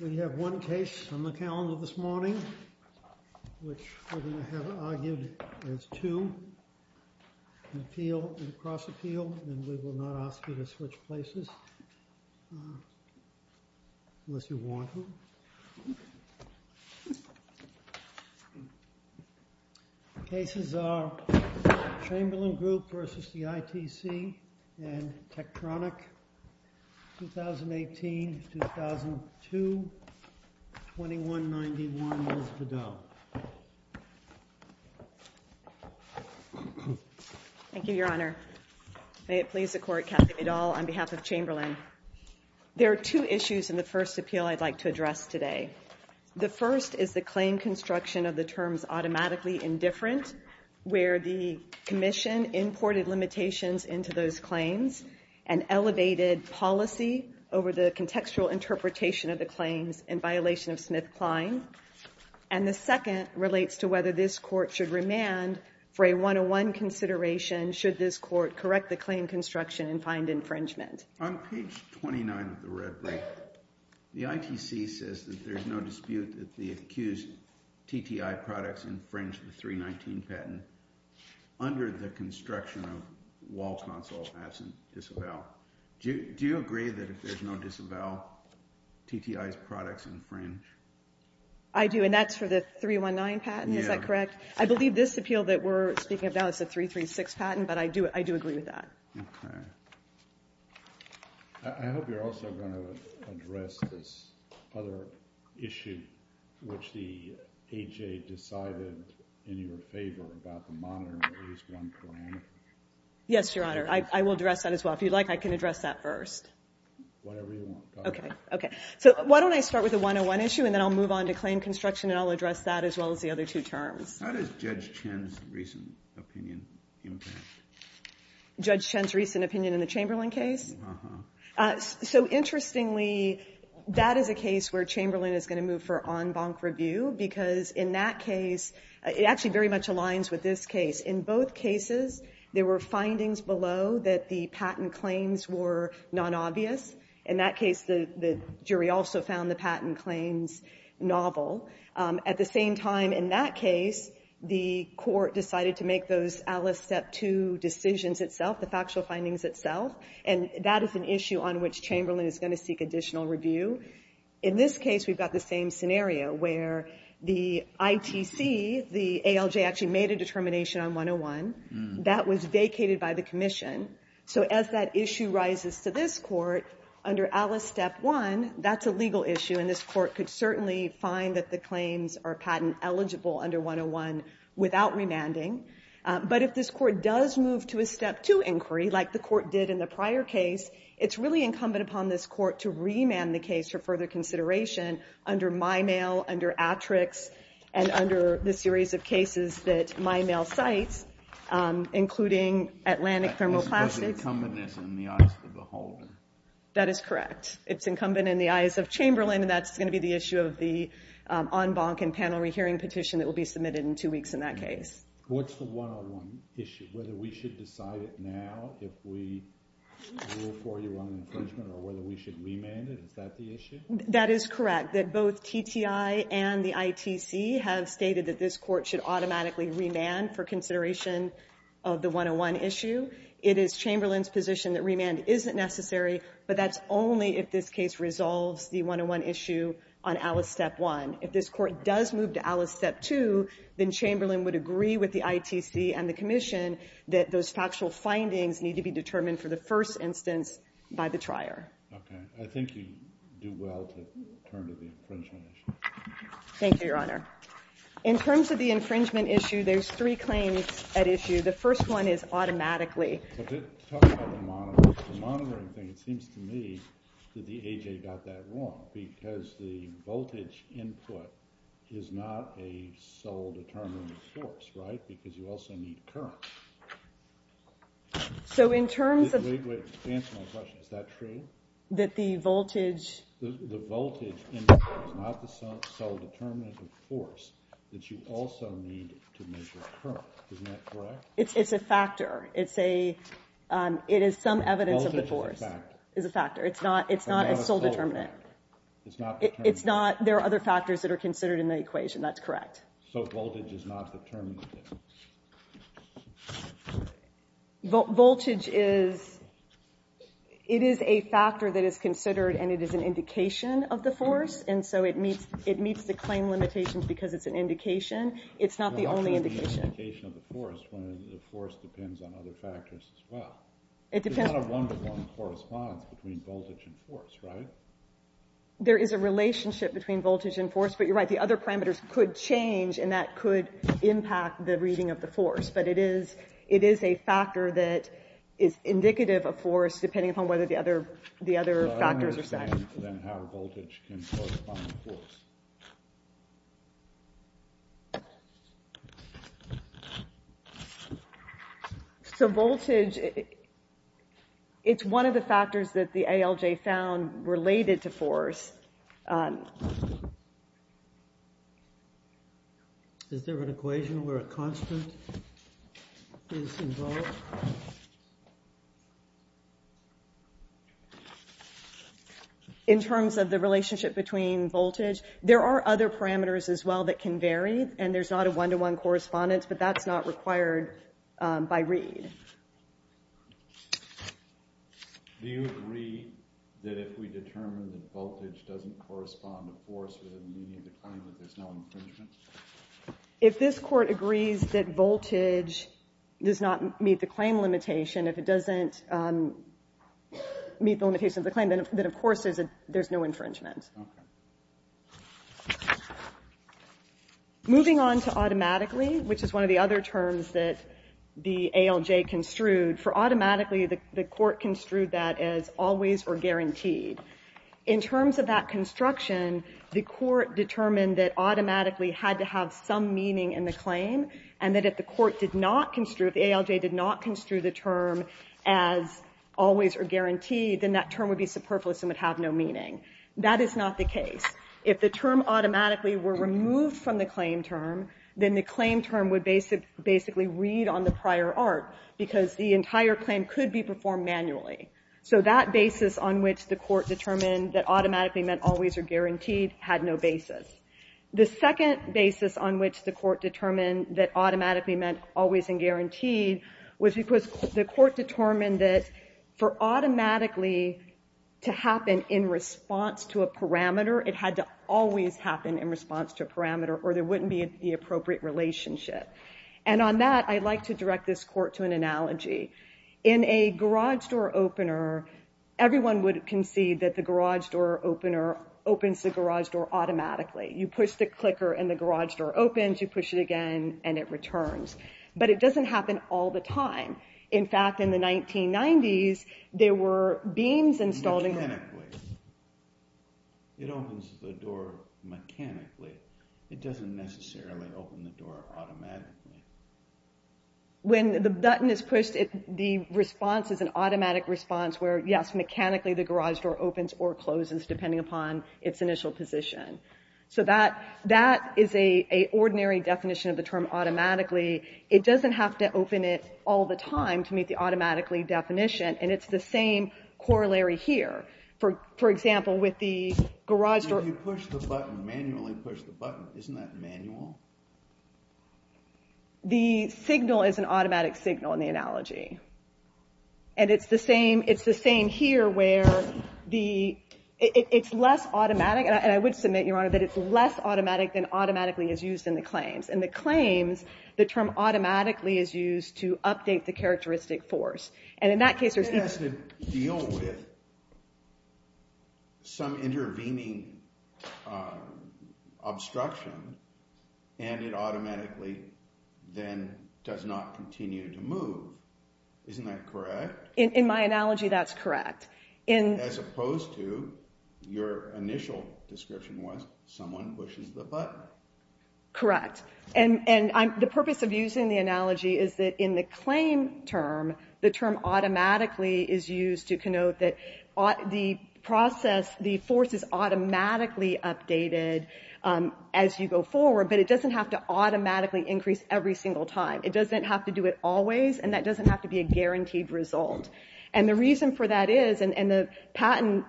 We have one case on the calendar this morning, which we're going to have it argued as two, appeal and cross-appeal, and we will not ask you to switch places unless you want to. The cases are Chamberlain Group v. ITC and Tektronik, 2018-2002, 2191, Ms. Vidal. Thank you, Your Honor. May it please the Court, Kathy Vidal, on behalf of Chamberlain. There are two issues in the first appeal I'd like to address today. The first is the claim construction of the terms automatically indifferent, where the Commission imported limitations into those claims and elevated policy over the contextual interpretation of the claims in violation of Smith-Kline. And the second relates to whether this Court should remand for a 101 consideration should this Court correct the claim construction and find infringement. On page 29 of the red brief, the ITC says that there's no dispute that the accused TTI products infringe the 319 patent under the construction of wall console patent disavowal. Do you agree that if there's no disavowal, TTI's products infringe? I do, and that's for the 319 patent, is that correct? Yeah. I believe this appeal that we're speaking about is a 336 patent, but I do agree with that. Okay. I hope you're also going to address this other issue, which the AHA decided in your favor about the monitoring of these one parameters. Yes, Your Honor, I will address that as well. If you'd like, I can address that first. Whatever you want. Okay, okay. So why don't I start with the 101 issue, and then I'll move on to claim construction, and I'll address that as well as the other two terms. How does Judge Chen's recent opinion impact? Judge Chen's recent opinion in the Chamberlain case? Uh-huh. So interestingly, that is a case where Chamberlain is going to move for en banc review because in that case, it actually very much aligns with this case. In both cases, there were findings below that the patent claims were nonobvious. In that case, the jury also found the patent claims novel. At the same time, in that case, the court decided to make those Alice Step 2 decisions itself, the factual findings itself, and that is an issue on which Chamberlain is going to seek additional review. In this case, we've got the same scenario where the ITC, the ALJ, actually made a determination on 101. That was vacated by the commission. So as that issue rises to this court, under Alice Step 1, that's a legal issue, and this court could certainly find that the claims are patent eligible under 101 without remanding. But if this court does move to a Step 2 inquiry, like the court did in the prior case, it's really incumbent upon this court to remand the case for further consideration under MyMail, under Atrix, and under the series of cases that MyMail cites, including Atlantic Thermoplastics. That is because of incumbency in the eyes of the beholder. That is correct. It's incumbent in the eyes of Chamberlain, and that's going to be the issue of the en banc and panel rehearing petition that will be submitted in two weeks in that case. What's the 101 issue? Whether we should decide it now if we rule for you on infringement or whether we should remand it? Is that the issue? That is correct, that both TTI and the ITC have stated that this court should automatically remand for consideration of the 101 issue. It is Chamberlain's position that remand isn't necessary, but that's only if this case resolves the 101 issue on Alice Step 1. If this court does move to Alice Step 2, then Chamberlain would agree with the ITC and the commission that those factual findings need to be determined for the first instance by the trier. Okay. I think you do well to turn to the infringement issue. Thank you, Your Honor. In terms of the infringement issue, there's three claims at issue. The first one is automatically. Talking about the monitoring thing, it seems to me that the A.J. got that wrong because the voltage input is not a sole determinant of force, right, because you also need current. So in terms of Wait, wait. Answer my question. Is that true? That the voltage The voltage input is not the sole determinant of force that you also need to measure current. Isn't that correct? It's a factor. It is some evidence of the force. Voltage is a factor. It's a factor. It's not a sole determinant. It's not a sole determinant. It's not. It's not. There are other factors that are considered in the equation. That's correct. So voltage is not the determinant. Voltage is, it is a factor that is considered and it is an indication of the force, and so it meets the claim limitations because it's an indication. It's not the only indication. It's not just an indication of the force when the force depends on other factors as well. It depends. There's not a one-to-one correspondence between voltage and force, right? There is a relationship between voltage and force, but you're right. The other parameters could change and that could impact the reading of the force, but it is a factor that is indicative of force depending upon whether the other factors are set. So voltage, it's one of the factors that the ALJ found related to force. Is there an equation where a constant is involved? In terms of the relationship between voltage, there are other parameters as well that can vary, and there's not a one-to-one correspondence, but that's not required by read. Do you agree that if we determine that voltage doesn't correspond to force, then we need to claim that there's no infringement? If this Court agrees that voltage does not meet the claim limitation, if it doesn't meet the limitation of the claim, then, of course, there's no infringement. Moving on to automatically, which is one of the other terms that the ALJ construed, for automatically, the Court construed that as always or guaranteed. In terms of that construction, the Court determined that automatically had to have some meaning in the claim and that if the Court did not construe, if the ALJ did not construe the term as always or guaranteed, then that term would be superfluous and would have no meaning. That is not the case. If the term automatically were removed from the claim term, then the claim term would basically read on the prior art because the entire claim could be performed manually. So that basis on which the Court determined that automatically meant always or guaranteed had no basis. The second basis on which the Court determined that automatically meant always and guaranteed was because the Court determined that for automatically to happen in response to a parameter, it had to always happen in response to a parameter or there wouldn't be the appropriate relationship. And on that, I'd like to direct this Court to an analogy. In a garage door opener, everyone would concede that the garage door opener opens the garage door automatically. You push the clicker and the garage door opens. You push it again and it returns. But it doesn't happen all the time. In fact, in the 1990s, there were beams installed. It opens the door mechanically. It doesn't necessarily open the door automatically. When the button is pushed, the response is an automatic response where, yes, mechanically the garage door opens or closes depending upon its initial position. So that is an ordinary definition of the term automatically. It doesn't have to open it all the time to meet the automatically definition, and it's the same corollary here. For example, with the garage door— Isn't that manual? The signal is an automatic signal in the analogy, and it's the same here where it's less automatic, and I would submit, Your Honor, that it's less automatic than automatically is used in the claims. In the claims, the term automatically is used to update the characteristic force. It has to deal with some intervening obstruction, and it automatically then does not continue to move. Isn't that correct? In my analogy, that's correct. As opposed to your initial description was someone pushes the button. Correct. The purpose of using the analogy is that in the claim term, the term automatically is used to connote that the process, the force is automatically updated as you go forward, but it doesn't have to automatically increase every single time. It doesn't have to do it always, and that doesn't have to be a guaranteed result. The reason for that is, and the patent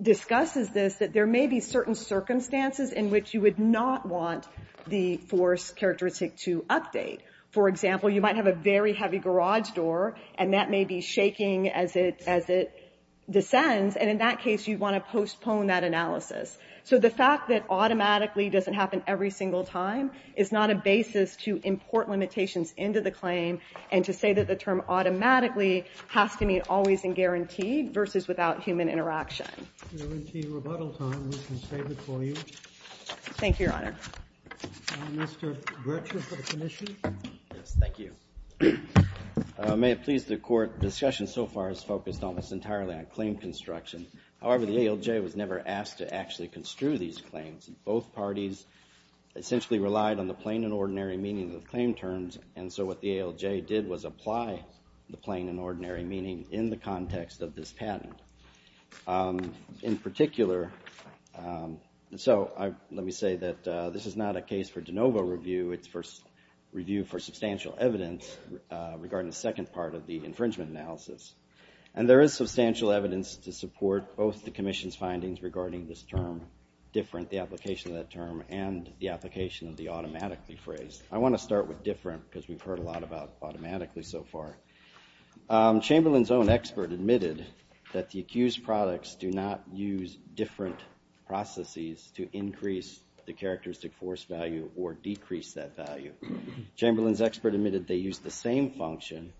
discusses this, that there may be certain circumstances in which you would not want the force characteristic to update. For example, you might have a very heavy garage door, and that may be shaking as it descends, and in that case, you'd want to postpone that analysis. So the fact that automatically doesn't happen every single time is not a basis to import limitations into the claim and to say that the term automatically has to mean always and guaranteed versus without human interaction. Thank you for your time. If there isn't any rebuttal time, we can save it for you. Thank you, Your Honor. Mr. Gretchen for the commission. Yes, thank you. May it please the Court, discussion so far has focused almost entirely on claim construction. However, the ALJ was never asked to actually construe these claims. Both parties essentially relied on the plain and ordinary meaning of the claim terms, and so what the ALJ did was apply the plain and ordinary meaning in the context of this patent. In particular, so let me say that this is not a case for de novo review. It's for review for substantial evidence regarding the second part of the infringement analysis, and there is substantial evidence to support both the commission's findings regarding this term, different, the application of that term, and the application of the automatically phrase. I want to start with different because we've heard a lot about automatically so far. Chamberlain's own expert admitted that the accused products do not use different processes to increase the characteristic force value or decrease that value. Chamberlain's expert admitted they use the same function,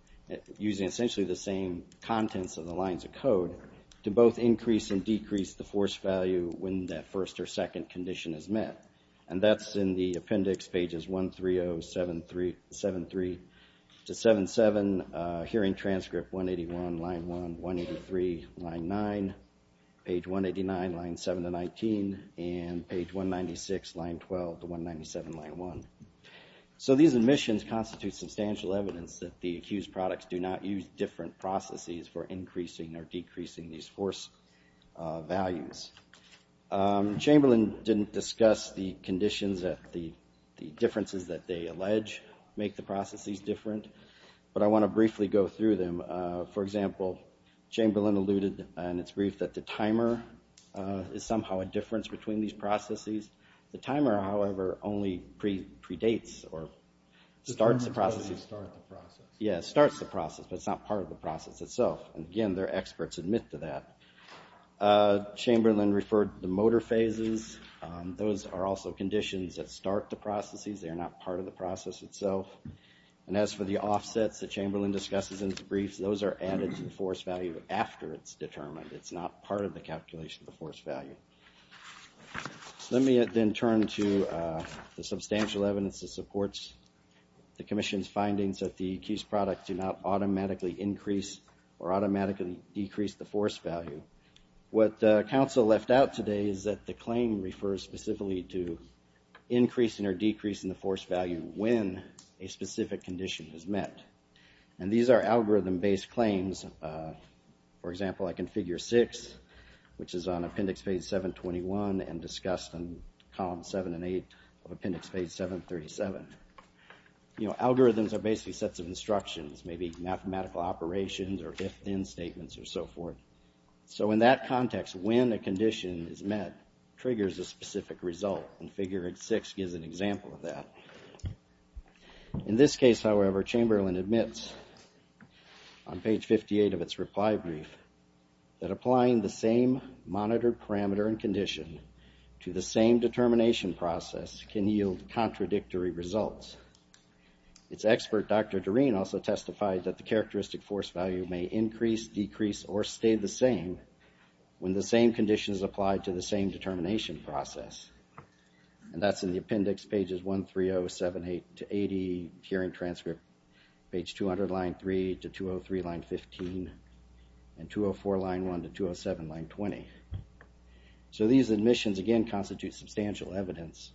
using essentially the same contents of the lines of code, to both increase and decrease the force value when that first or second condition is met, and that's in the appendix pages 13073 to 77, hearing transcript 181, line 1, 183, line 9, page 189, line 7 to 19, and page 196, line 12 to 197, line 1. So these admissions constitute substantial evidence that the accused products do not use different processes for increasing or decreasing these force values. Chamberlain didn't discuss the conditions that the differences that they allege make the processes different, but I want to briefly go through them. For example, Chamberlain alluded in its brief that the timer is somehow a difference between these processes. The timer, however, only predates or starts the process. It starts the process. Yeah, it starts the process, but it's not part of the process itself, and again, their experts admit to that. Chamberlain referred to the motor phases. Those are also conditions that start the processes. They are not part of the process itself. And as for the offsets that Chamberlain discusses in his brief, those are added to the force value after it's determined. It's not part of the calculation of the force value. Let me then turn to the substantial evidence that supports the Commission's findings that the accused products do not automatically increase or automatically decrease the force value. What counsel left out today is that the claim refers specifically to increasing or decreasing the force value when a specific condition is met. And these are algorithm-based claims. For example, I can figure six, which is on appendix page 721, and discussed in columns seven and eight of appendix page 737. You know, algorithms are basically sets of instructions, maybe mathematical operations or if-then statements or so forth. So in that context, when a condition is met triggers a specific result, and figure six gives an example of that. In this case, however, Chamberlain admits on page 58 of its reply brief that applying the same monitored parameter and condition to the same determination process can yield contradictory results. Its expert, Dr. Doreen, also testified that the characteristic force value may increase, decrease, or stay the same when the same conditions apply to the same determination process. And that's in the appendix pages 13078 to 80, hearing transcript page 200 line 3 to 203 line 15, and 204 line 1 to 207 line 20. So these admissions, again, constitute substantial evidence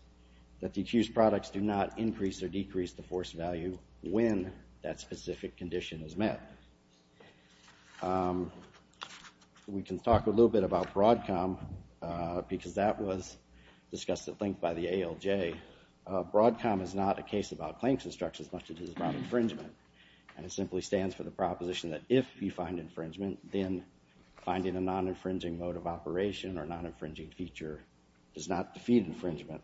that the accused products do not increase or decrease the force value when that specific condition is met. We can talk a little bit about BRODCOM, because that was discussed at length by the ALJ. BRODCOM is not a case about claims instructions, much as it is about infringement. And it simply stands for the proposition that if you find infringement, then finding a non-infringing mode of operation or non-infringing feature does not defeat infringement.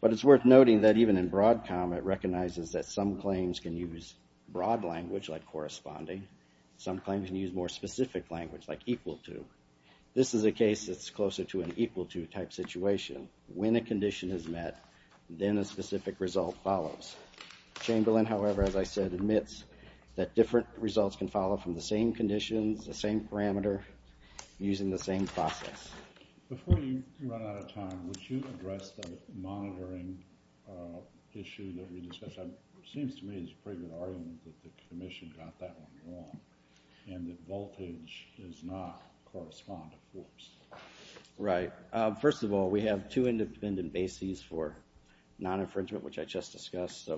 But it's worth noting that even in BRODCOM, it recognizes that some claims can use broad language, like corresponding. Some claims can use more specific language, like equal to. This is a case that's closer to an equal to type situation. When a condition is met, then a specific result follows. Chamberlain, however, as I said, admits that different results can follow from the same conditions, the same parameter, using the same process. Before you run out of time, would you address the monitoring issue that we discussed? It seems to me it's a pretty good argument that the Commission got that one wrong and that voltage does not correspond to force. Right. First of all, we have two independent bases for non-infringement, which I just discussed.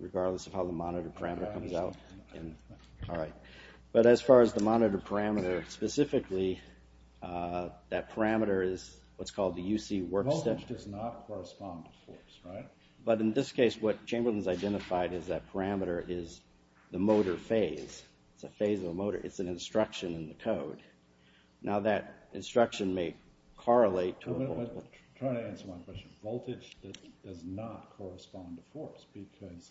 Regardless of how the monitor parameter comes out. But as far as the monitor parameter, specifically that parameter is what's called the UC work step. Voltage does not correspond to force, right? But in this case, what Chamberlain's identified is that parameter is the motor phase. It's a phase of a motor. It's an instruction in the code. Now that instruction may correlate to a voltage. I'm trying to answer my question. Voltage does not correspond to force because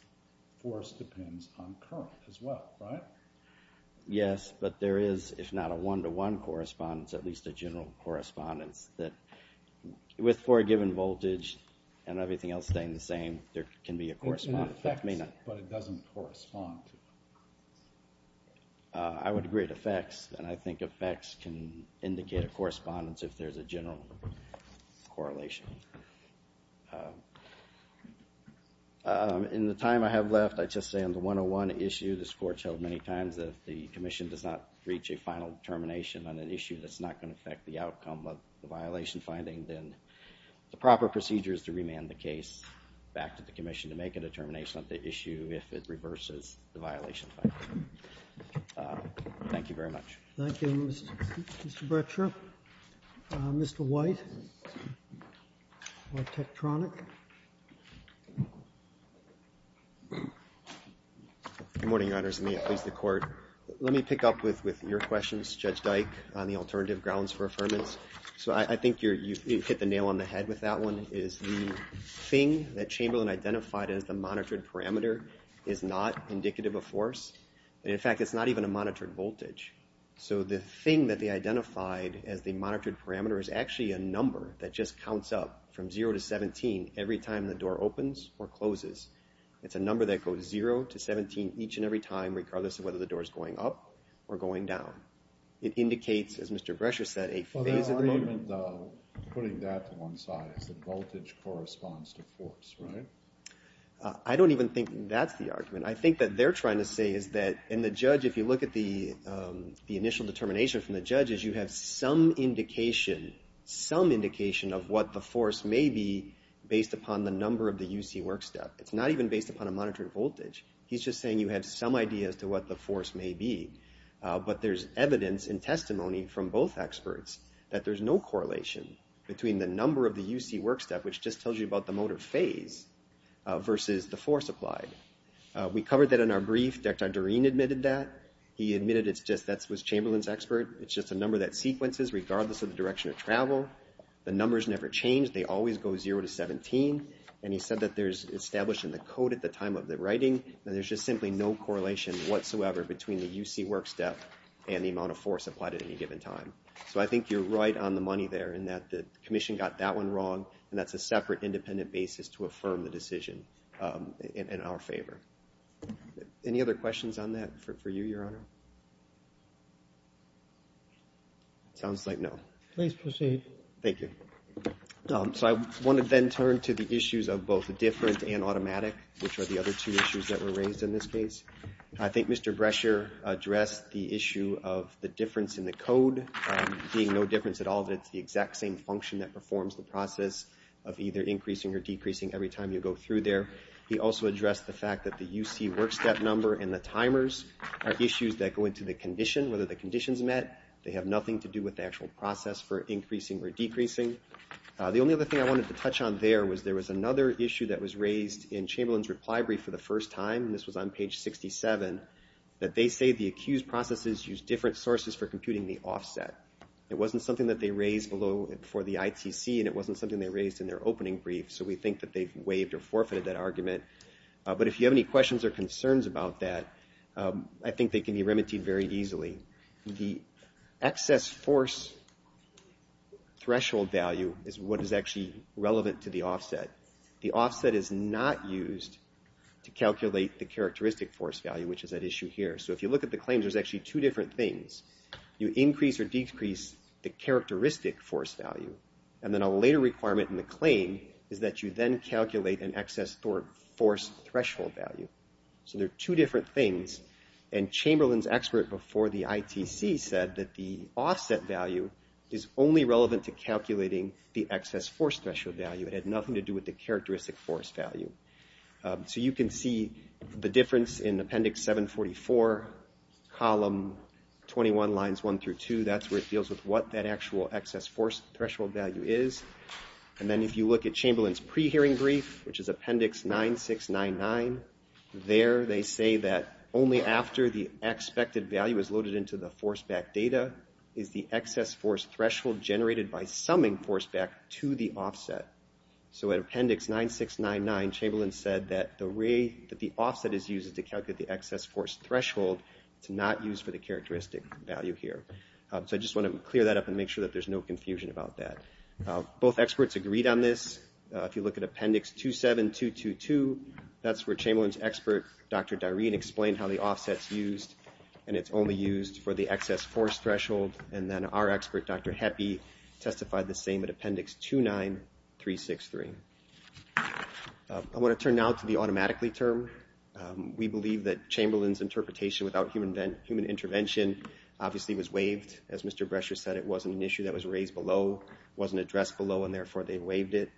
force depends on current as well, right? Yes, but there is, if not a one-to-one correspondence, at least a general correspondence that with for a given voltage and everything else staying the same, there can be a correspondence. It affects, but it doesn't correspond. I would agree it affects, and I think affects can indicate a correspondence if there's a general correlation. In the time I have left, I'd just say on the one-to-one issue, this Court's held many times that if the Commission does not reach a final determination on an issue that's not going to affect the outcome of the violation finding, then the proper procedure is to remand the case back to the Commission to make a determination on the issue if it reverses the violation finding. Thank you very much. Thank you, Mr. Bretscher. Mr. White. Good morning, Your Honors, and may it please the Court. Let me pick up with your questions, Judge Dyke, on the alternative grounds for affirmance. So I think you hit the nail on the head with that one, is the thing that Chamberlain identified as the monitored parameter is not indicative of force. In fact, it's not even a monitored voltage. So the thing that they identified as the monitored parameter is actually a number that just counts up from 0 to 17 every time the door opens or closes. It's a number that goes 0 to 17 each and every time regardless of whether the door is going up or going down. It indicates, as Mr. Bretscher said, a phase of the motor. Putting that to one side, the voltage corresponds to force, right? I don't even think that's the argument. I think that they're trying to say is that, and the judge, if you look at the initial determination from the judge, is you have some indication, some indication of what the force may be based upon the number of the UC workstep. It's not even based upon a monitored voltage. He's just saying you have some idea as to what the force may be. But there's evidence and testimony from both experts that there's no correlation between the number of the UC workstep, which just tells you about the motor phase, versus the force applied. We covered that in our brief. Dr. Doreen admitted that. He admitted that was Chamberlain's expert. It's just a number that sequences regardless of the direction of travel. The numbers never change. They always go 0 to 17. And he said that there's established in the code at the time of the writing that there's just simply no correlation whatsoever between the UC workstep and the amount of force applied at any given time. So I think you're right on the money there in that the commission got that one wrong, and that's a separate independent basis to affirm the decision in our favor. Any other questions on that for you, Your Honor? Sounds like no. Please proceed. Thank you. So I want to then turn to the issues of both different and automatic, which are the other two issues that were raised in this case. I think Mr. Brescher addressed the issue of the difference in the code being no difference at all. It's the exact same function that performs the process of either increasing or decreasing every time you go through there. He also addressed the fact that the UC workstep number and the timers are issues that go into the condition, whether the condition's met. They have nothing to do with the actual process for increasing or decreasing. The only other thing I wanted to touch on there was there was another issue that was raised in Chamberlain's reply brief for the first time, and this was on page 67, that they say the accused processes use different sources for computing the offset. It wasn't something that they raised for the ITC, and it wasn't something they raised in their opening brief, so we think that they've waived or forfeited that argument. But if you have any questions or concerns about that, I think they can be remedied very easily. The excess force threshold value is what is actually relevant to the offset. The offset is not used to calculate the characteristic force value, which is at issue here. So if you look at the claims, there's actually two different things. You increase or decrease the characteristic force value, and then a later requirement in the claim is that you then calculate an excess force threshold value. So there are two different things, and Chamberlain's expert before the ITC said that the offset value is only relevant to calculating the excess force threshold value. It had nothing to do with the characteristic force value. So you can see the difference in appendix 744, column 21, lines 1 through 2. That's where it deals with what that actual excess force threshold value is. And then if you look at Chamberlain's pre-hearing brief, which is appendix 9699, there they say that only after the expected value is loaded into the force-back data is the excess force threshold generated by summing force-back to the offset. So at appendix 9699, Chamberlain said that the way that the offset is used is to calculate the excess force threshold. It's not used for the characteristic value here. So I just want to clear that up and make sure that there's no confusion about that. Both experts agreed on this. If you look at appendix 27222, that's where Chamberlain's expert, Dr. Doreen, explained how the offset's used, and it's only used for the excess force threshold. And then our expert, Dr. Heppe, testified the same at appendix 29363. I want to turn now to the automatically term. We believe that Chamberlain's interpretation without human intervention obviously was waived. As Mr. Brescher said, it wasn't an issue that was raised below, wasn't addressed below, and therefore they waived it.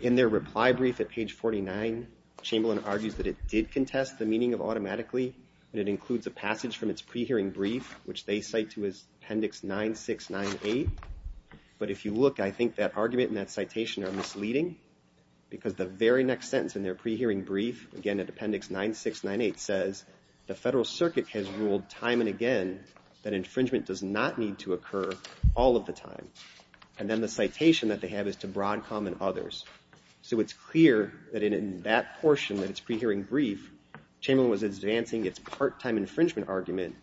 In their reply brief at page 49, Chamberlain argues that it did contest the meaning of automatically, and it includes a passage from its pre-hearing brief, which they cite to as appendix 9698. But if you look, I think that argument and that citation are misleading, because the very next sentence in their pre-hearing brief, again at appendix 9698, says, the Federal Circuit has ruled time and again that infringement does not need to occur all of the time. And then the citation that they have is to Broadcom and others. So it's clear that in that portion, in its pre-hearing brief, Chamberlain was advancing its part-time infringement argument.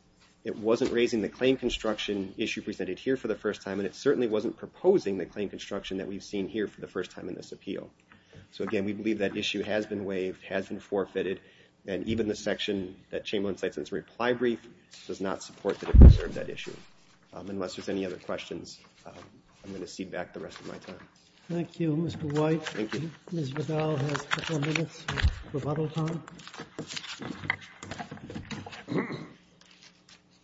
It wasn't raising the claim construction issue presented here for the first time, and it certainly wasn't proposing the claim construction that we've seen here for the first time in this appeal. So again, we believe that issue has been waived, has been forfeited, and even the section that Chamberlain cites in his reply brief does not support that it preserved that issue. Unless there's any other questions, I'm going to cede back the rest of my time. Thank you, Mr. White. Thank you. Ms. Riddell has a couple of minutes of rebuttal time.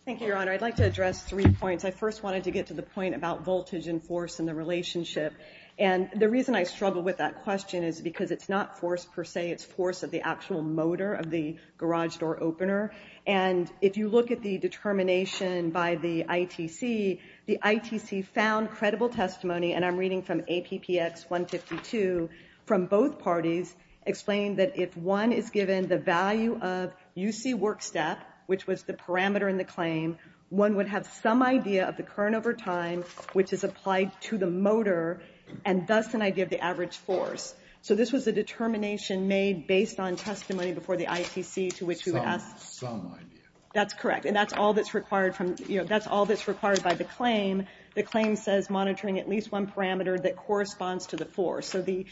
Thank you, Your Honor. I'd like to address three points. I first wanted to get to the point about voltage and force and the relationship. And the reason I struggle with that question is because it's not force per se. It's force of the actual motor of the garage door opener. And if you look at the determination by the ITC, the ITC found credible testimony, and I'm reading from APPX 152, from both parties explain that if one is given the value of UC work step, which was the parameter in the claim, one would have some idea of the current over time, which is applied to the motor, and thus an idea of the average force. So this was a determination made based on testimony before the ITC to which we would ask... Some idea. That's correct. And that's all that's required by the claim. The claim says monitoring at least one parameter that corresponds to the force. So the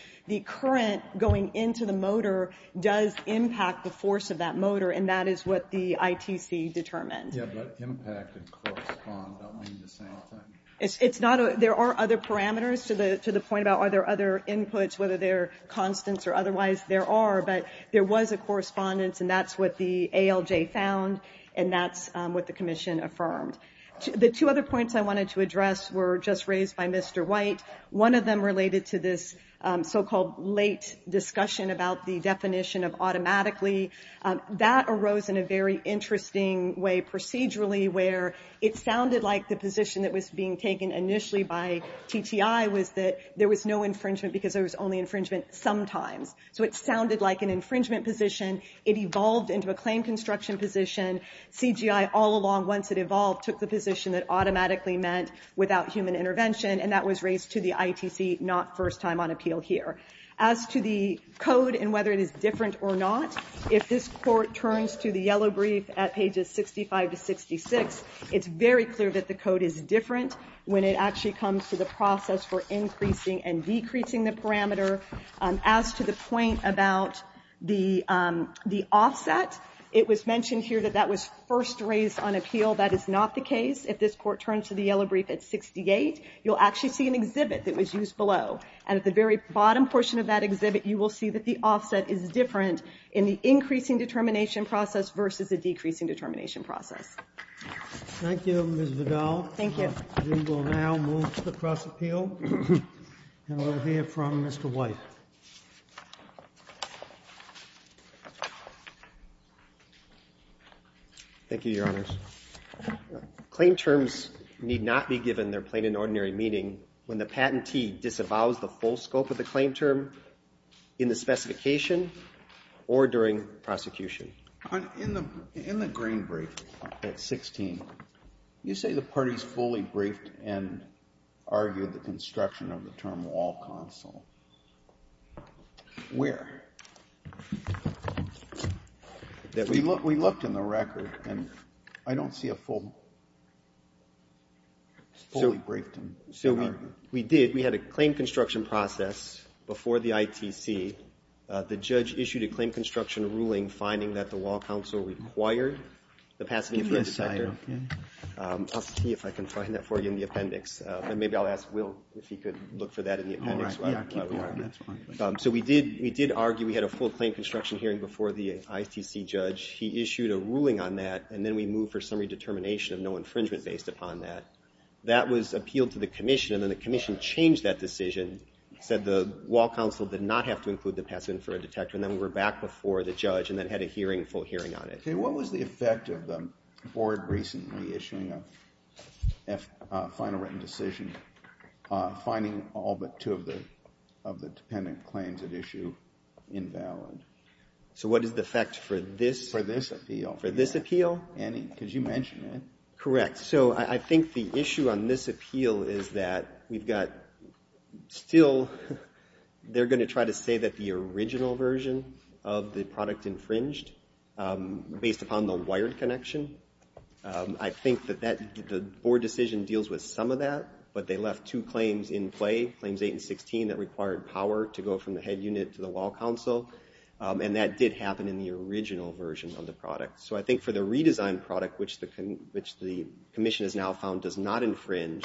current going into the motor does impact the force of that motor, and that is what the ITC determined. Yeah, but impact and correspond don't mean the same thing. It's not a... There are other parameters to the point about are there other inputs, whether they're constants or otherwise, there are. But there was a correspondence, and that's what the ALJ found, and that's what the commission affirmed. The two other points I wanted to address were just raised by Mr. White. One of them related to this so-called late discussion about the definition of automatically. That arose in a very interesting way procedurally where it sounded like the position that was being taken initially by TTI was that there was no infringement because there was only infringement sometimes. So it sounded like an infringement position. It evolved into a claim construction position. CGI all along, once it evolved, took the position that automatically meant without human intervention, and that was raised to the ITC, not first time on appeal here. As to the code and whether it is different or not, if this court turns to the yellow brief at pages 65 to 66, it's very clear that the code is different when it actually comes to the process for increasing and decreasing the parameter. As to the point about the offset, it was mentioned here that that was first raised on appeal. That is not the case. If this court turns to the yellow brief at 68, you'll actually see an exhibit that was used below, and at the very bottom portion of that exhibit, you will see that the offset is different in the increasing determination process versus the decreasing determination process. Thank you, Ms. Vidal. Thank you. We will now move to the cross appeal. And we'll hear from Mr. White. Thank you, Your Honors. Claim terms need not be given their plain and ordinary meaning when the patentee disavows the full scope of the claim term in the specification or during prosecution. In the green brief at 16, you say the parties fully briefed and argued the construction of the term wall counsel. Where? We looked in the record, and I don't see a full, fully briefed. So we did. We had a claim construction process before the ITC. The judge issued a claim construction ruling finding that the wall counsel required the passive infrared detector. I'll see if I can find that for you in the appendix. Maybe I'll ask Will if he could look for that in the appendix. So we did argue we had a full claim construction hearing before the ITC judge. He issued a ruling on that, and then we moved for summary determination of no infringement based upon that. That was appealed to the commission, and then the commission changed that decision, said the wall counsel did not have to include the passive infrared detector, and then we were back before the judge and then had a hearing, full hearing on it. Okay. What was the effect of the board recently issuing a final written decision finding all but two of the dependent claims at issue invalid? So what is the effect for this? For this appeal. For this appeal? Because you mentioned it. Correct. So I think the issue on this appeal is that we've got still, they're going to try to say that the original version of the product infringed based upon the wired connection. I think that the board decision deals with some of that, but they left two claims in play, claims eight and 16 that required power to go from the head unit to the wall counsel, and that did happen in the original version of the product. So I think for the redesigned product, which the commission has now found does not infringe,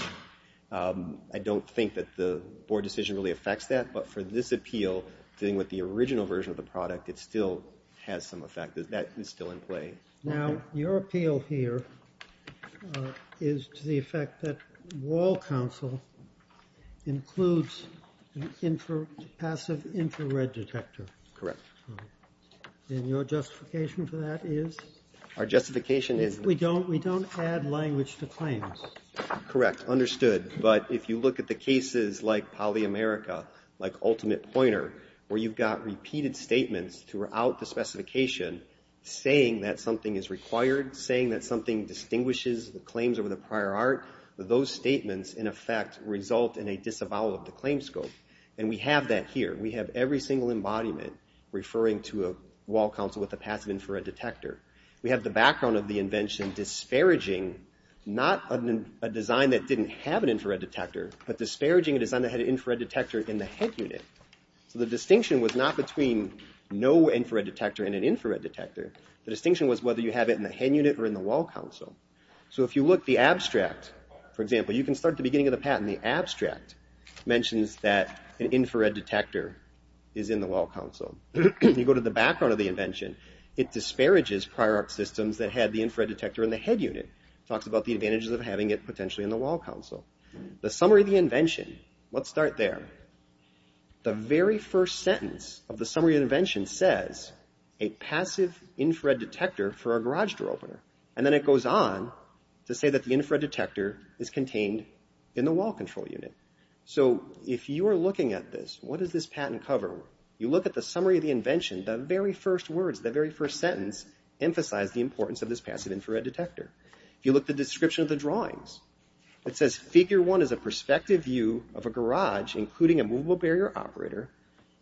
I don't think that the board decision really affects that, but for this appeal, dealing with the original version of the product, it still has some effect. That is still in play. Now, your appeal here is to the effect that wall counsel includes passive infrared detector. Correct. And your justification for that is? Our justification is... We don't add language to claims. Correct. Understood. But if you look at the cases like PolyAmerica, like Ultimate Pointer, where you've got repeated statements throughout the specification saying that something is required, saying that something distinguishes the claims over the prior art, those statements, in effect, result in a disavowal of the claim scope. And we have that here. We have every single embodiment referring to a wall counsel with a passive infrared detector. We have the background of the invention disparaging not a design that didn't have an infrared detector, but disparaging a design that had an infrared detector in the head unit. So the distinction was not between no infrared detector and an infrared detector. The distinction was whether you have it in the head unit or in the wall counsel. So if you look at the abstract, for example, you can start at the beginning of the patent. The abstract mentions that an infrared detector is in the wall counsel. You go to the background of the invention, it disparages prior art systems that had the infrared detector in the head unit. It talks about the advantages of having it potentially in the wall counsel. The summary of the invention, let's start there. The very first sentence of the summary of the invention says a passive infrared detector for a garage door opener. And then it goes on to say that the infrared detector is contained in the wall control unit. So if you are looking at this, what does this patent cover? You look at the summary of the invention, the very first words, the very first sentence emphasize the importance of this passive infrared detector. If you look at the description of the drawings, it says figure one is a perspective view of a garage, including a movable barrier operator,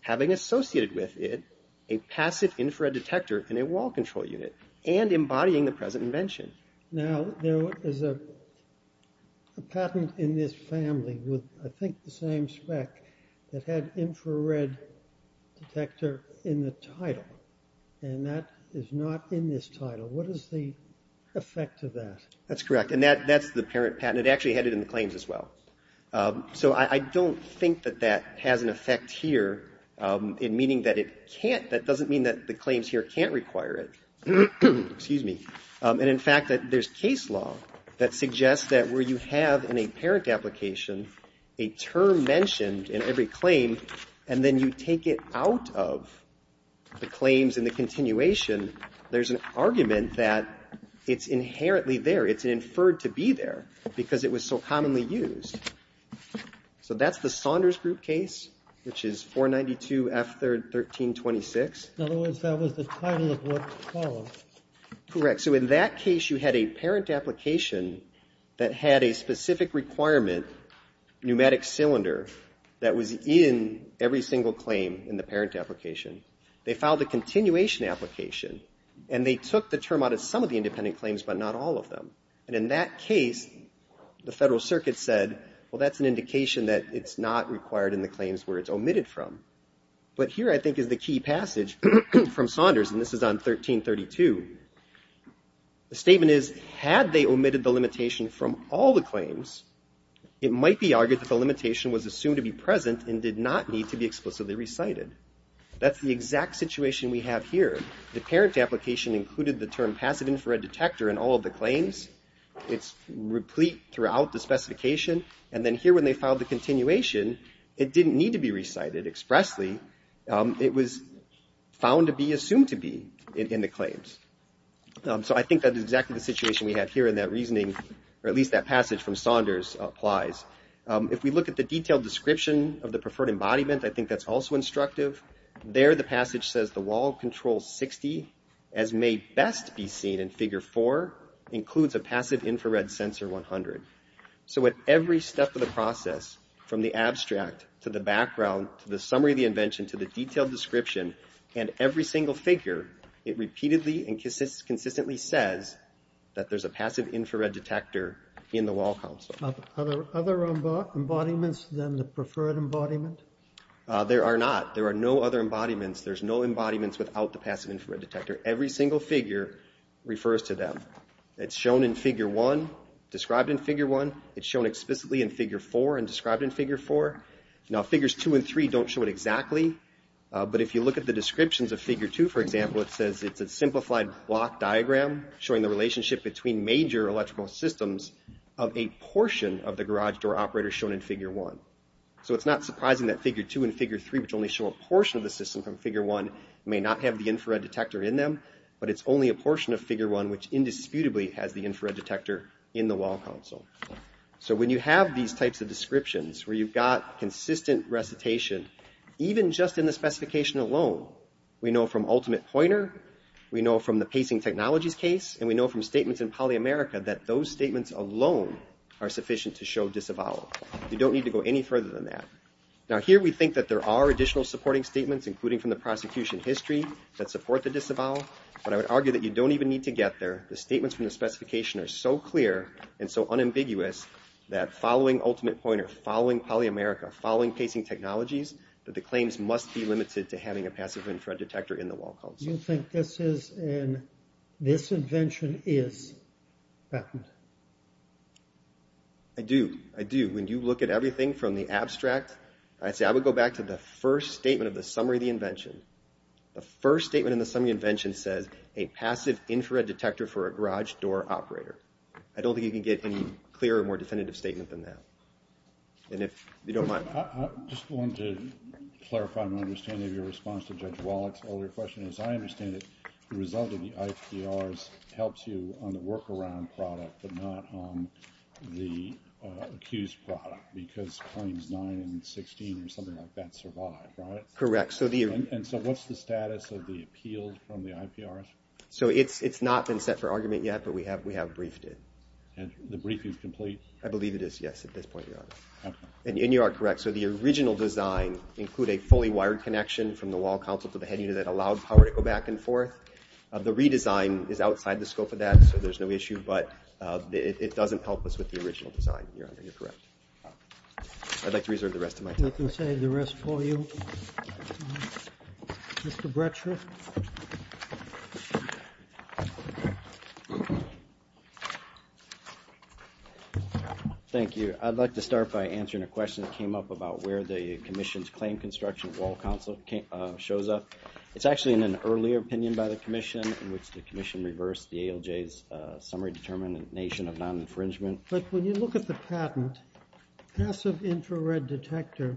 having associated with it a passive infrared detector in a wall control unit, and embodying the present invention. Now there is a patent in this family with I think the same spec that had infrared detector in the title. And that is not in this title. What is the effect of that? That's correct. And that's the parent patent. It actually had it in the claims as well. So I don't think that that has an effect here in meaning that it can't, that doesn't mean that the claims here can't require it. Excuse me. And in fact, there's case law that suggests that where you have in a parent application a term mentioned in every claim and then you take it out of the claims in the continuation, there's an argument that it's inherently there. It's inferred to be there because it was so commonly used. So that's the Saunders Group case, which is 492F1326. In other words, that was the title of what followed. Correct. So in that case you had a parent application that had a specific requirement, pneumatic cylinder that was in every single claim in the parent application. They filed a continuation application, and they took the term out of some of the independent claims but not all of them. And in that case, the Federal Circuit said, well, that's an indication that it's not required in the claims where it's omitted from. But here I think is the key passage from Saunders, and this is on 1332. The statement is, had they omitted the limitation from all the claims, it might be argued that the limitation was assumed to be present and did not need to be explicitly recited. That's the exact situation we have here. The parent application included the term passive infrared detector in all of the claims. It's replete throughout the specification. And then here when they filed the continuation, it didn't need to be recited expressly. It was found to be assumed to be in the claims. So I think that's exactly the situation we have here in that reasoning, or at least that passage from Saunders applies. If we look at the detailed description of the preferred embodiment, I think that's also instructive. There the passage says the wall control 60, as may best be seen in figure 4, includes a passive infrared sensor 100. So at every step of the process, from the abstract to the background, to the summary of the invention, to the detailed description, and every single figure, it repeatedly and consistently says that there's a passive infrared detector in the wall console. Are there other embodiments than the preferred embodiment? There are not. There are no other embodiments. There's no embodiments without the passive infrared detector. Every single figure refers to them. It's shown in figure 1, described in figure 1. It's shown explicitly in figure 4 and described in figure 4. Now figures 2 and 3 don't show it exactly, but if you look at the descriptions of figure 2, for example, it says it's a simplified block diagram showing the relationship between major electrical systems of a portion of the garage door operator shown in figure 1. So it's not surprising that figure 2 and figure 3, which only show a portion of the system from figure 1, may not have the infrared detector in them, but it's only a portion of figure 1 which indisputably has the infrared detector in the wall console. So when you have these types of descriptions where you've got consistent recitation, even just in the specification alone, we know from ultimate pointer, we know from the pacing technologies case, and we know from statements in polyamerica that those statements alone are sufficient to show disavowal. You don't need to go any further than that. Now here we think that there are additional supporting statements, including from the prosecution history, that support the disavowal, but I would argue that you don't even need to get there. The statements from the specification are so clear and so unambiguous that following ultimate pointer, following polyamerica, following pacing technologies, that the claims must be limited to having a passive infrared detector in the wall console. You think this is an... this invention is patent? I do. I do. When you look at everything from the abstract, I would go back to the first statement of the summary of the invention. The first statement in the summary of the invention says, a passive infrared detector for a garage door operator. I don't think you can get any clearer, more definitive statement than that. And if you don't mind. I just wanted to clarify and understand your response to Judge Wallach's earlier question. As I understand it, the result of the IPRs helps you on the workaround product, but not on the accused product, because claims 9 and 16 or something like that survive, right? Correct. And so what's the status of the appeal from the IPRs? So it's not been set for argument yet, but we have briefed it. And the brief is complete? I believe it is, yes, at this point, Your Honor. And you are correct. So the original design include a fully wired connection from the wall console to the head unit that allowed power to go back and forth. The redesign is outside the scope of that, so there's no issue, but it doesn't help us with the original design, Your Honor. You're correct. I'd like to reserve the rest of my time. I can save the rest for you. Mr. Bratcher. Thank you. I'd like to start by answering a question that came up about where the commission's claim construction wall console shows up. It's actually in an earlier opinion by the commission in which the commission reversed the ALJ's summary determination of non-infringement. But when you look at the patent, passive infrared detector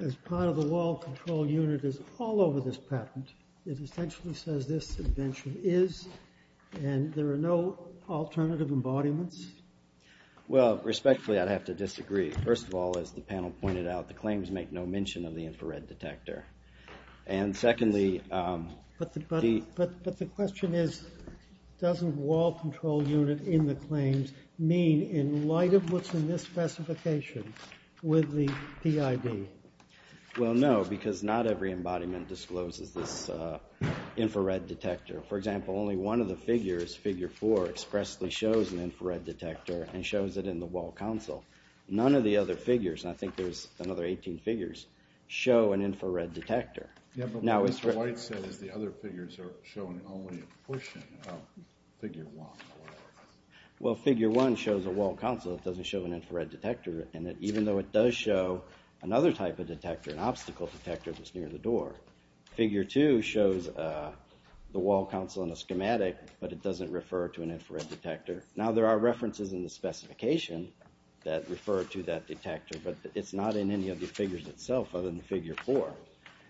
as part of the wall control unit is all over this patent. It essentially says this invention is, and there are no alternative embodiments? Well, respectfully, I'd have to disagree. First of all, as the panel pointed out, the claims make no mention of the infrared detector. And secondly... But the question is, doesn't wall control unit in the claims mean in light of what's in this specification with the PID? Well, no, because not every embodiment discloses this infrared detector. For example, only one of the figures, figure 4, expressly shows an infrared detector and shows it in the wall console. None of the other figures, and I think there's another 18 figures, show an infrared detector. Yeah, but what Mr. White said is the other figures are showing only a portion of figure 1 or whatever. Well, figure 1 shows a wall console. It doesn't show an infrared detector in it, even though it does show another type of detector, an obstacle detector that's near the door. Figure 2 shows the wall console in a schematic, but it doesn't refer to an infrared detector. Now, there are references in the specification that refer to that detector, but it's not in any of the figures itself other than figure 4.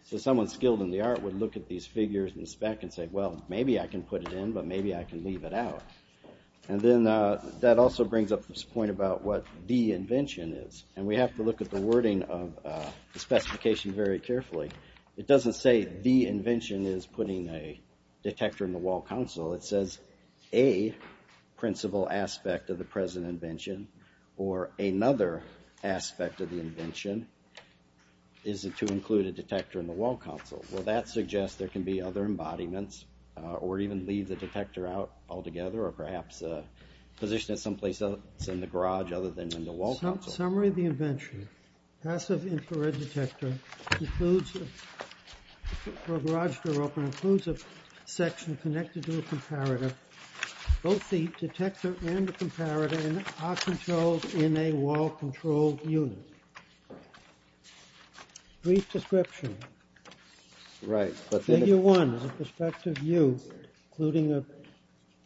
So someone skilled in the art would look at these figures in the spec and say, well, maybe I can put it in, but maybe I can leave it out. And then that also brings up this point about what the invention is. And we have to look at the wording of the specification very carefully. It doesn't say the invention is putting a detector in the wall console. It says a principal aspect of the present invention or another aspect of the invention is to include a detector in the wall console. Well, that suggests there can be other embodiments or even leave the detector out altogether or perhaps position it someplace else in the garage other than in the wall console. Summary of the invention. Passive infrared detector for a garage door opener includes a section connected to a comparator. Both the detector and the comparator are controlled in a wall-controlled unit. Brief description. Figure 1 is a perspective view including a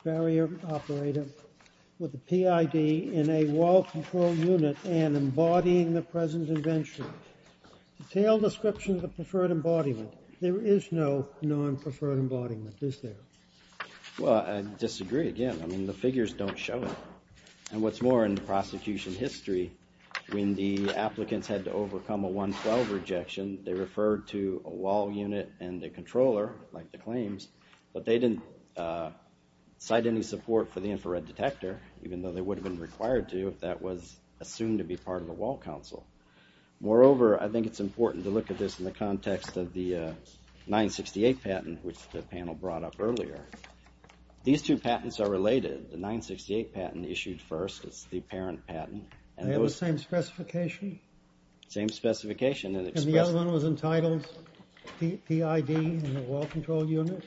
barrier operator with a PID in a wall-controlled unit and embodying the present invention. Detailed description of the preferred embodiment. There is no non-preferred embodiment, is there? Well, I disagree again. I mean, the figures don't show it. And what's more, in the prosecution history, when the applicants had to overcome a 112 rejection, they referred to a wall unit and a controller, like the claims, but they didn't cite any support for the infrared detector, even though they would have been required to if that was assumed to be part of the wall console. Moreover, I think it's important to look at this in the context of the 968 patent, which the panel brought up earlier. These two patents are related. The 968 patent issued first. It's the parent patent. They have the same specification? Same specification. And the other one was entitled PID in a wall-controlled unit?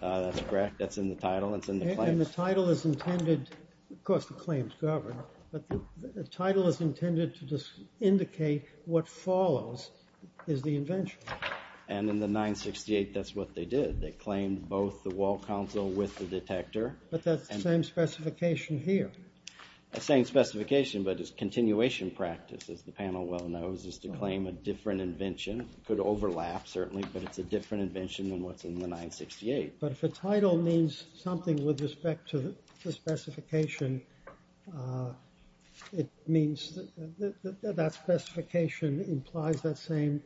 That's correct. That's in the title. It's in the claims. And the title is intended... Of course, the claims govern, but the title is intended to indicate what follows is the invention. And in the 968, that's what they did. They claimed both the wall console with the detector. But that's the same specification here. The same specification, but it's continuation practice, as the panel well knows, is to claim a different invention. It could overlap, certainly, but it's a different invention than what's in the 968. But if the title means something with respect to the specification, it means that that specification implies that same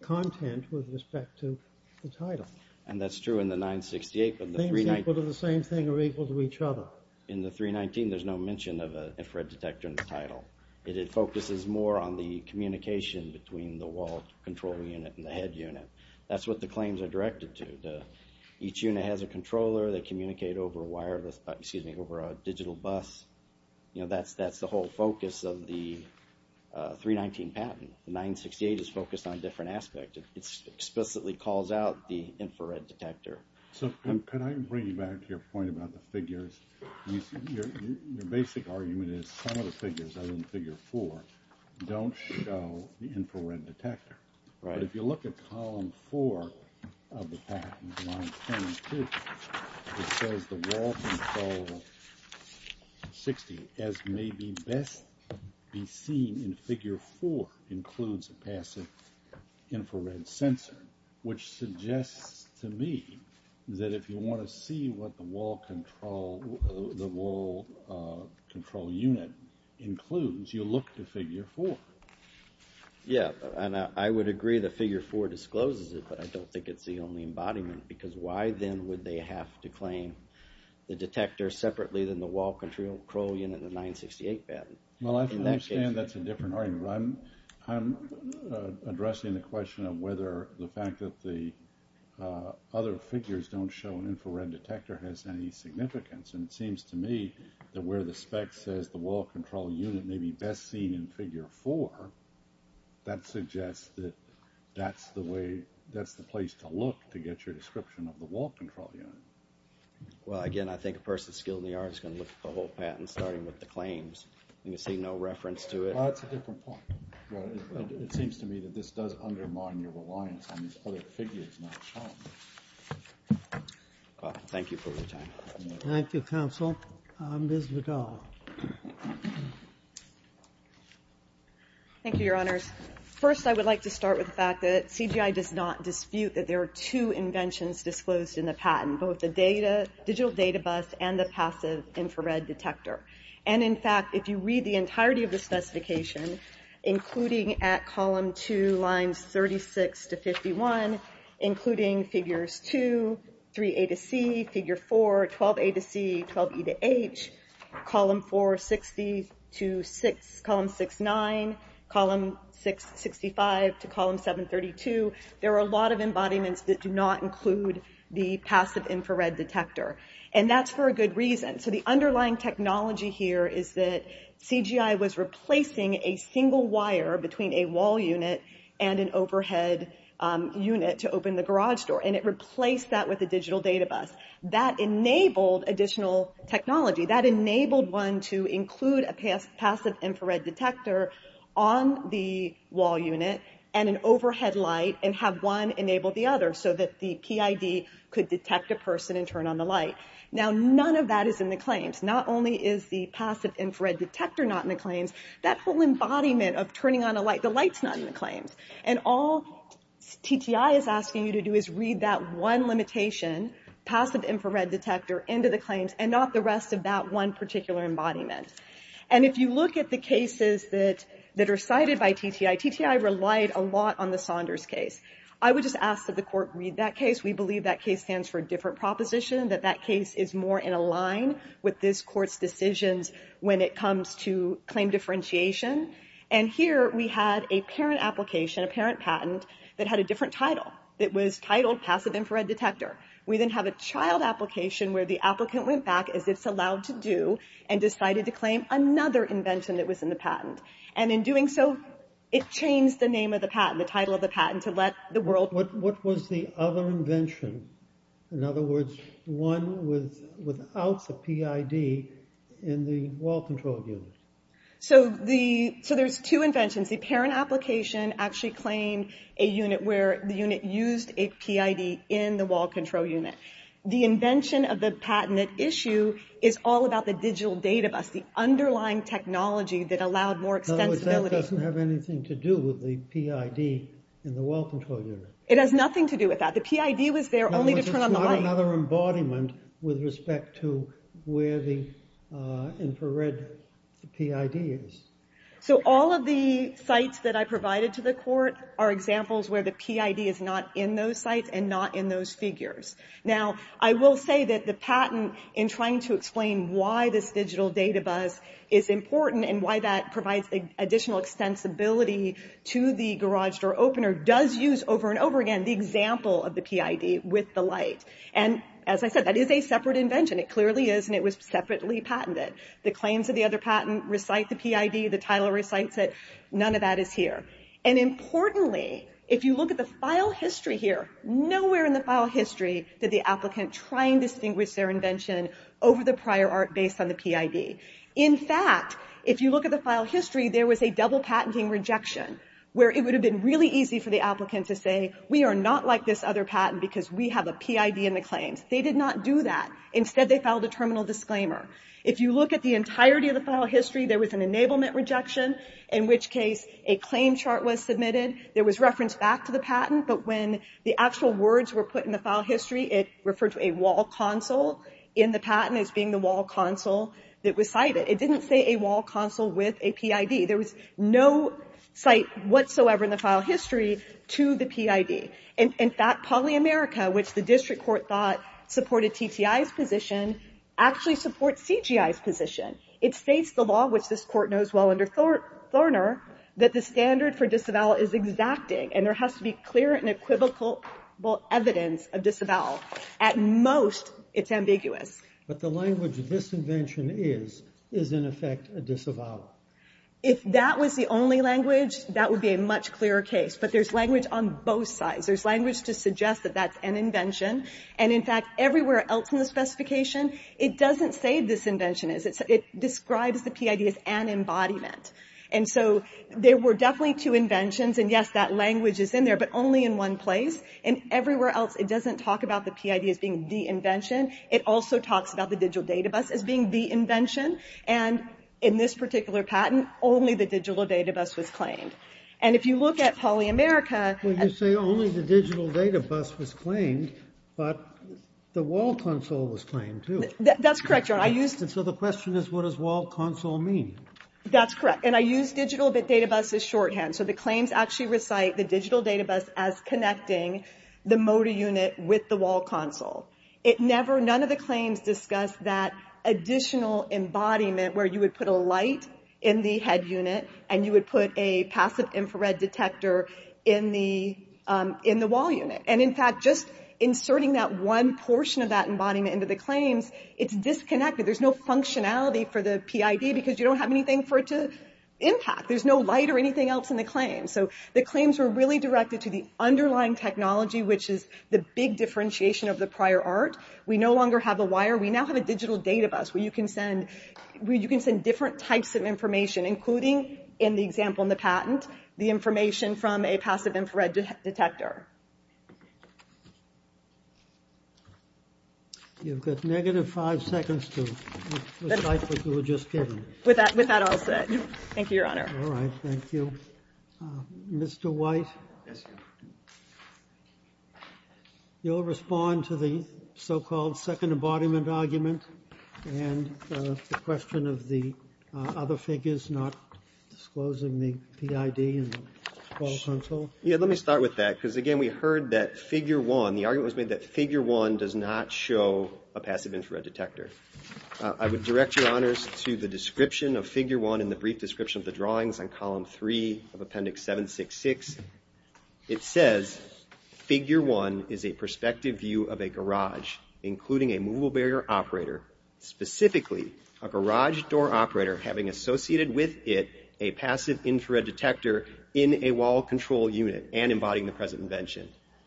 content with respect to the title. And that's true in the 968, but the 319... Things equal to the same thing are equal to each other. In the 319, there's no mention of an infrared detector in the title. It focuses more on the communication between the wall-controlled unit and the head unit. That's what the claims are directed to. Each unit has a controller. They communicate over wireless, excuse me, over a digital bus. You know, that's the whole focus of the 319 patent. The 968 is focused on a different aspect. It explicitly calls out the infrared detector. So could I bring you back to your point about the figures? Your basic argument is some of the figures, other than figure four, don't show the infrared detector. But if you look at column four of the patent, line 22, it says the wall-controlled 60, as may best be seen in figure four, includes a passive infrared sensor, which suggests to me that if you want to see what the wall-controlled unit includes, you look to figure four. Yeah, and I would agree that figure four discloses it, but I don't think it's the only embodiment, because why then would they have to claim the detector separately than the wall-controlled unit of the 968 patent? Well, I understand that's a different argument. I'm addressing the question of whether the fact that the other figures don't show an infrared detector has any significance. And it seems to me that where the spec says that the wall-controlled unit may be best seen in figure four, that suggests that that's the way, that's the place to look to get your description of the wall-controlled unit. Well, again, I think a person skilled in the art is going to look at the whole patent, starting with the claims, and see no reference to it. Well, that's a different point. It seems to me that this does undermine your reliance on these other figures not showing. Thank you for your time. Thank you, counsel. Ms. Vidal. Thank you, Your Honors. First, I would like to start with the fact that CGI does not dispute that there are two inventions disclosed in the patent, both the digital data bus and the passive infrared detector. And, in fact, if you read the entirety of the specification, including at column two, lines 36 to 51, including figures two, 3A to C, figure four, 12A to C, 12E to H, column 4, 60 to 6, column 6, 9, column 6, 65 to column 7, 32, there are a lot of embodiments that do not include the passive infrared detector. And that's for a good reason. So the underlying technology here is that CGI was replacing a single wire between a wall unit and an overhead unit to open the garage door, and it replaced that with a digital data bus. That enabled additional technology. That enabled one to include a passive infrared detector on the wall unit and an overhead light and have one enable the other, so that the PID could detect a person and turn on the light. Now, none of that is in the claims. Not only is the passive infrared detector not in the claims, that whole embodiment of turning on a light, the light's not in the claims. And all TTI is asking you to do is read that one limitation, passive infrared detector, into the claims and not the rest of that one particular embodiment. And if you look at the cases that are cited by TTI, TTI relied a lot on the Saunders case. I would just ask that the court read that case. We believe that case stands for a different proposition, that that case is more in a line with this court's decisions when it comes to claim differentiation. And here we had a parent application, a parent patent, that had a different title. It was titled passive infrared detector. We then have a child application where the applicant went back, as it's allowed to do, and decided to claim another invention that was in the patent. And in doing so, it changed the name of the patent, the title of the patent, to let the world... What was the other invention? In other words, one without the PID in the wall control unit. So there's two inventions. The parent application actually claimed a unit where the unit used a PID in the wall control unit. The invention of the patent issue is all about the digital data bus, the underlying technology that allowed more extensibility. In other words, that doesn't have anything to do with the PID in the wall control unit. It has nothing to do with that. The PID was there only to turn on the light. In other words, it's not another embodiment with respect to where the infrared PID is. So all of the sites that I provided to the court are examples where the PID is not in those sites and not in those figures. Now, I will say that the patent, in trying to explain why this digital data bus is important and why that provides additional extensibility to the garage door opener, does use over and over again the example of the PID with the light. And as I said, that is a separate invention. It clearly is, and it was separately patented. The claims of the other patent recite the PID. The title recites it. None of that is here. And importantly, if you look at the file history here, nowhere in the file history did the applicant try and distinguish their invention over the prior art based on the PID. In fact, if you look at the file history, there was a double patenting rejection where it would have been really easy for the applicant to say, we are not like this other patent because we have a PID in the claims. They did not do that. Instead, they filed a terminal disclaimer. If you look at the entirety of the file history, there was an enablement rejection, in which case a claim chart was submitted. There was reference back to the patent, but when the actual words were put in the file history, it referred to a wall console in the patent as being the wall console that was cited. It didn't say a wall console with a PID. There was no cite whatsoever in the file history to the PID. In fact, Poly America, which the district court thought supported TTI's position, actually supports CGI's position. It states the law, which this Court knows well under Thorner, that the standard for disavowal is exacting and there has to be clear and equivocal evidence of disavowal. At most, it's ambiguous. But the language, disinvention is, is in effect a disavowal. If that was the only language, that would be a much clearer case. But there's language on both sides. There's language to suggest that that's an invention. And in fact, everywhere else in the specification, it doesn't say disinvention is. It describes the PID as an embodiment. And so there were definitely two inventions. And yes, that language is in there, but only in one place. And everywhere else, it doesn't talk about the PID as being the invention. It also talks about the digital data bus as being the invention. And in this particular patent, only the digital data bus was claimed. And if you look at Poly America... Well, you say only the digital data bus was claimed, but the wall console was claimed, too. That's correct, Your Honor. So the question is, what does wall console mean? That's correct. And I use digital data bus as shorthand. So the claims actually recite the digital data bus as connecting the motor unit with the wall console. It never, none of the claims discuss that additional embodiment where you would put a light in the head unit and you would put a passive infrared detector in the wall unit. And in fact, just inserting that one portion of that embodiment into the claims, it's disconnected. There's no functionality for the PID because you don't have anything for it to impact. There's no light or anything else in the claims. So the claims were really directed to the underlying technology, which is the big differentiation of the prior art. We no longer have a wire. We now have a digital data bus where you can send different types of information, including, in the example in the patent, the information from a passive infrared detector. You've got negative five seconds to recite what you were just given. With that all said, thank you, Your Honor. All right. Thank you. Mr. White. Yes, Your Honor. You'll respond to the so-called second embodiment argument and the question of the other figures not disclosing the PID and the wall console? Yeah, let me start with that because, again, we heard that Figure 1, the argument was made that Figure 1 does not show a passive infrared detector. I would direct Your Honors to the description of Figure 1 in the brief description of the drawings on Column 3 of Appendix 766. It says, Figure 1 is a perspective view of a garage, including a movable barrier operator, specifically a garage door operator having associated with it a passive infrared detector in a wall control unit and embodying the present invention.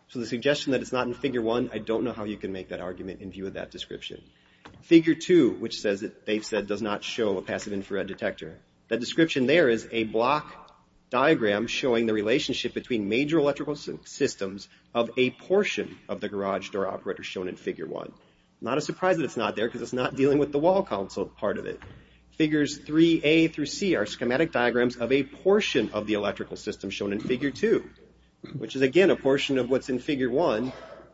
So the suggestion that it's not in Figure 1, I don't know how you can make that argument in view of that description. Figure 2, which they've said does not show a passive infrared detector, that description there is a block diagram showing the relationship between major electrical systems of a portion of the garage door operator shown in Figure 1. Not a surprise that it's not there because it's not dealing with the wall console part of it. Figures 3A through C are schematic diagrams of a portion of the electrical system shown in Figure 2, which is, again, a portion of what's in Figure 1,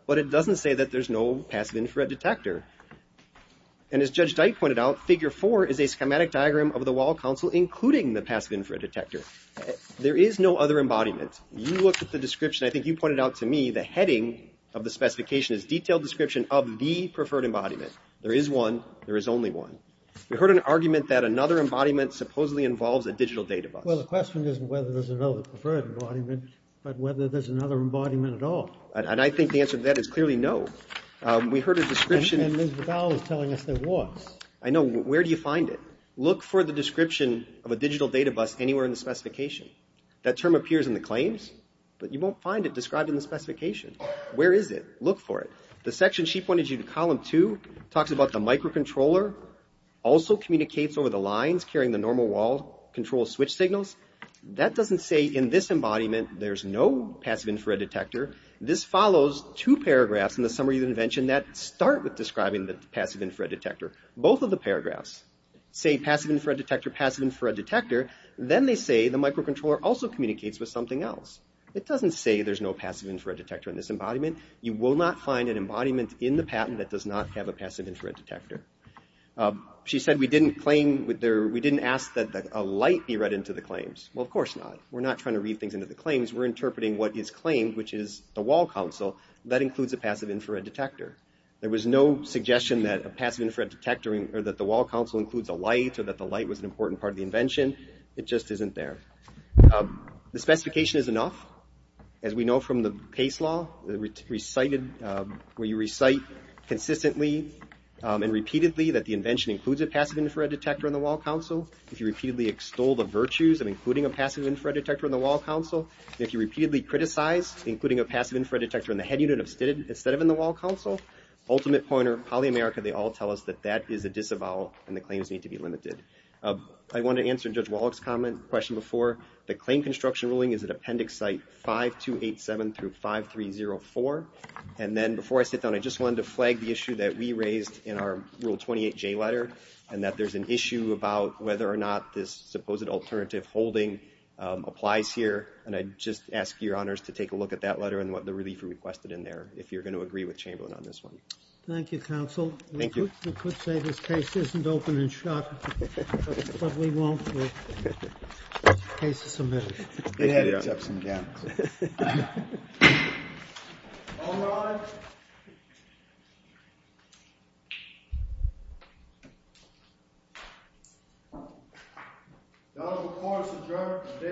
but it doesn't say that there's no passive infrared detector. And as Judge Dyke pointed out, Figure 4 is a schematic diagram of the wall console, including the passive infrared detector. There is no other embodiment. You looked at the description, I think you pointed out to me, the heading of the specification is Detailed Description of the Preferred Embodiment. There is one. There is only one. We heard an argument that another embodiment supposedly involves a digital data bus. Well, the question isn't whether there's another preferred embodiment, but whether there's another embodiment at all. And I think the answer to that is clearly no. We heard a description... And Ms. Bacow is telling us there was. I know. Where do you find it? Look for the description of a digital data bus anywhere in the specification. That term appears in the claims, but you won't find it described in the specification. Where is it? Look for it. The section she pointed you to, Column 2, talks about the microcontroller also communicates over the lines carrying the normal wall control switch signals. That doesn't say in this embodiment there's no passive infrared detector. This follows two paragraphs in the summary of the invention that start with describing the passive infrared detector. Both of the paragraphs say passive infrared detector, passive infrared detector. Then they say the microcontroller also communicates with something else. It doesn't say there's no passive infrared detector in this embodiment. You will not find an embodiment in the patent that does not have a passive infrared detector. She said we didn't claim... We didn't ask that a light be read into the claims. Well, of course not. We're not trying to read things into the claims. We're interpreting what is claimed, which is the wall console. That includes a passive infrared detector. There was no suggestion that a passive infrared detector or that the wall console includes a light or that the light was an important part of the invention. It just isn't there. The specification is enough. As we know from the case law, where you recite consistently and repeatedly that the invention includes a passive infrared detector in the wall console, if you repeatedly extol the virtues of including a passive infrared detector in the wall console, and if you repeatedly criticize including a passive infrared detector in the head unit instead of in the wall console, ultimate pointer, polyamerica, they all tell us that that is a disavowal and the claims need to be limited. I want to answer Judge Wallach's question before. The claim construction ruling is at appendix site 5287 through 5304. Before I sit down, I just wanted to flag the issue that we raised in our Rule 28J letter and that there's an issue about whether or not this supposed alternative holding applies here. I just ask your honors to take a look at that letter and what the relief requested in there, if you're going to agree with Chamberlain on this one. Thank you, Counsel. We could say this case isn't open and shut, but we won't. The case is submitted. It had its ups and downs. All rise. The Honorable Court has adjourned.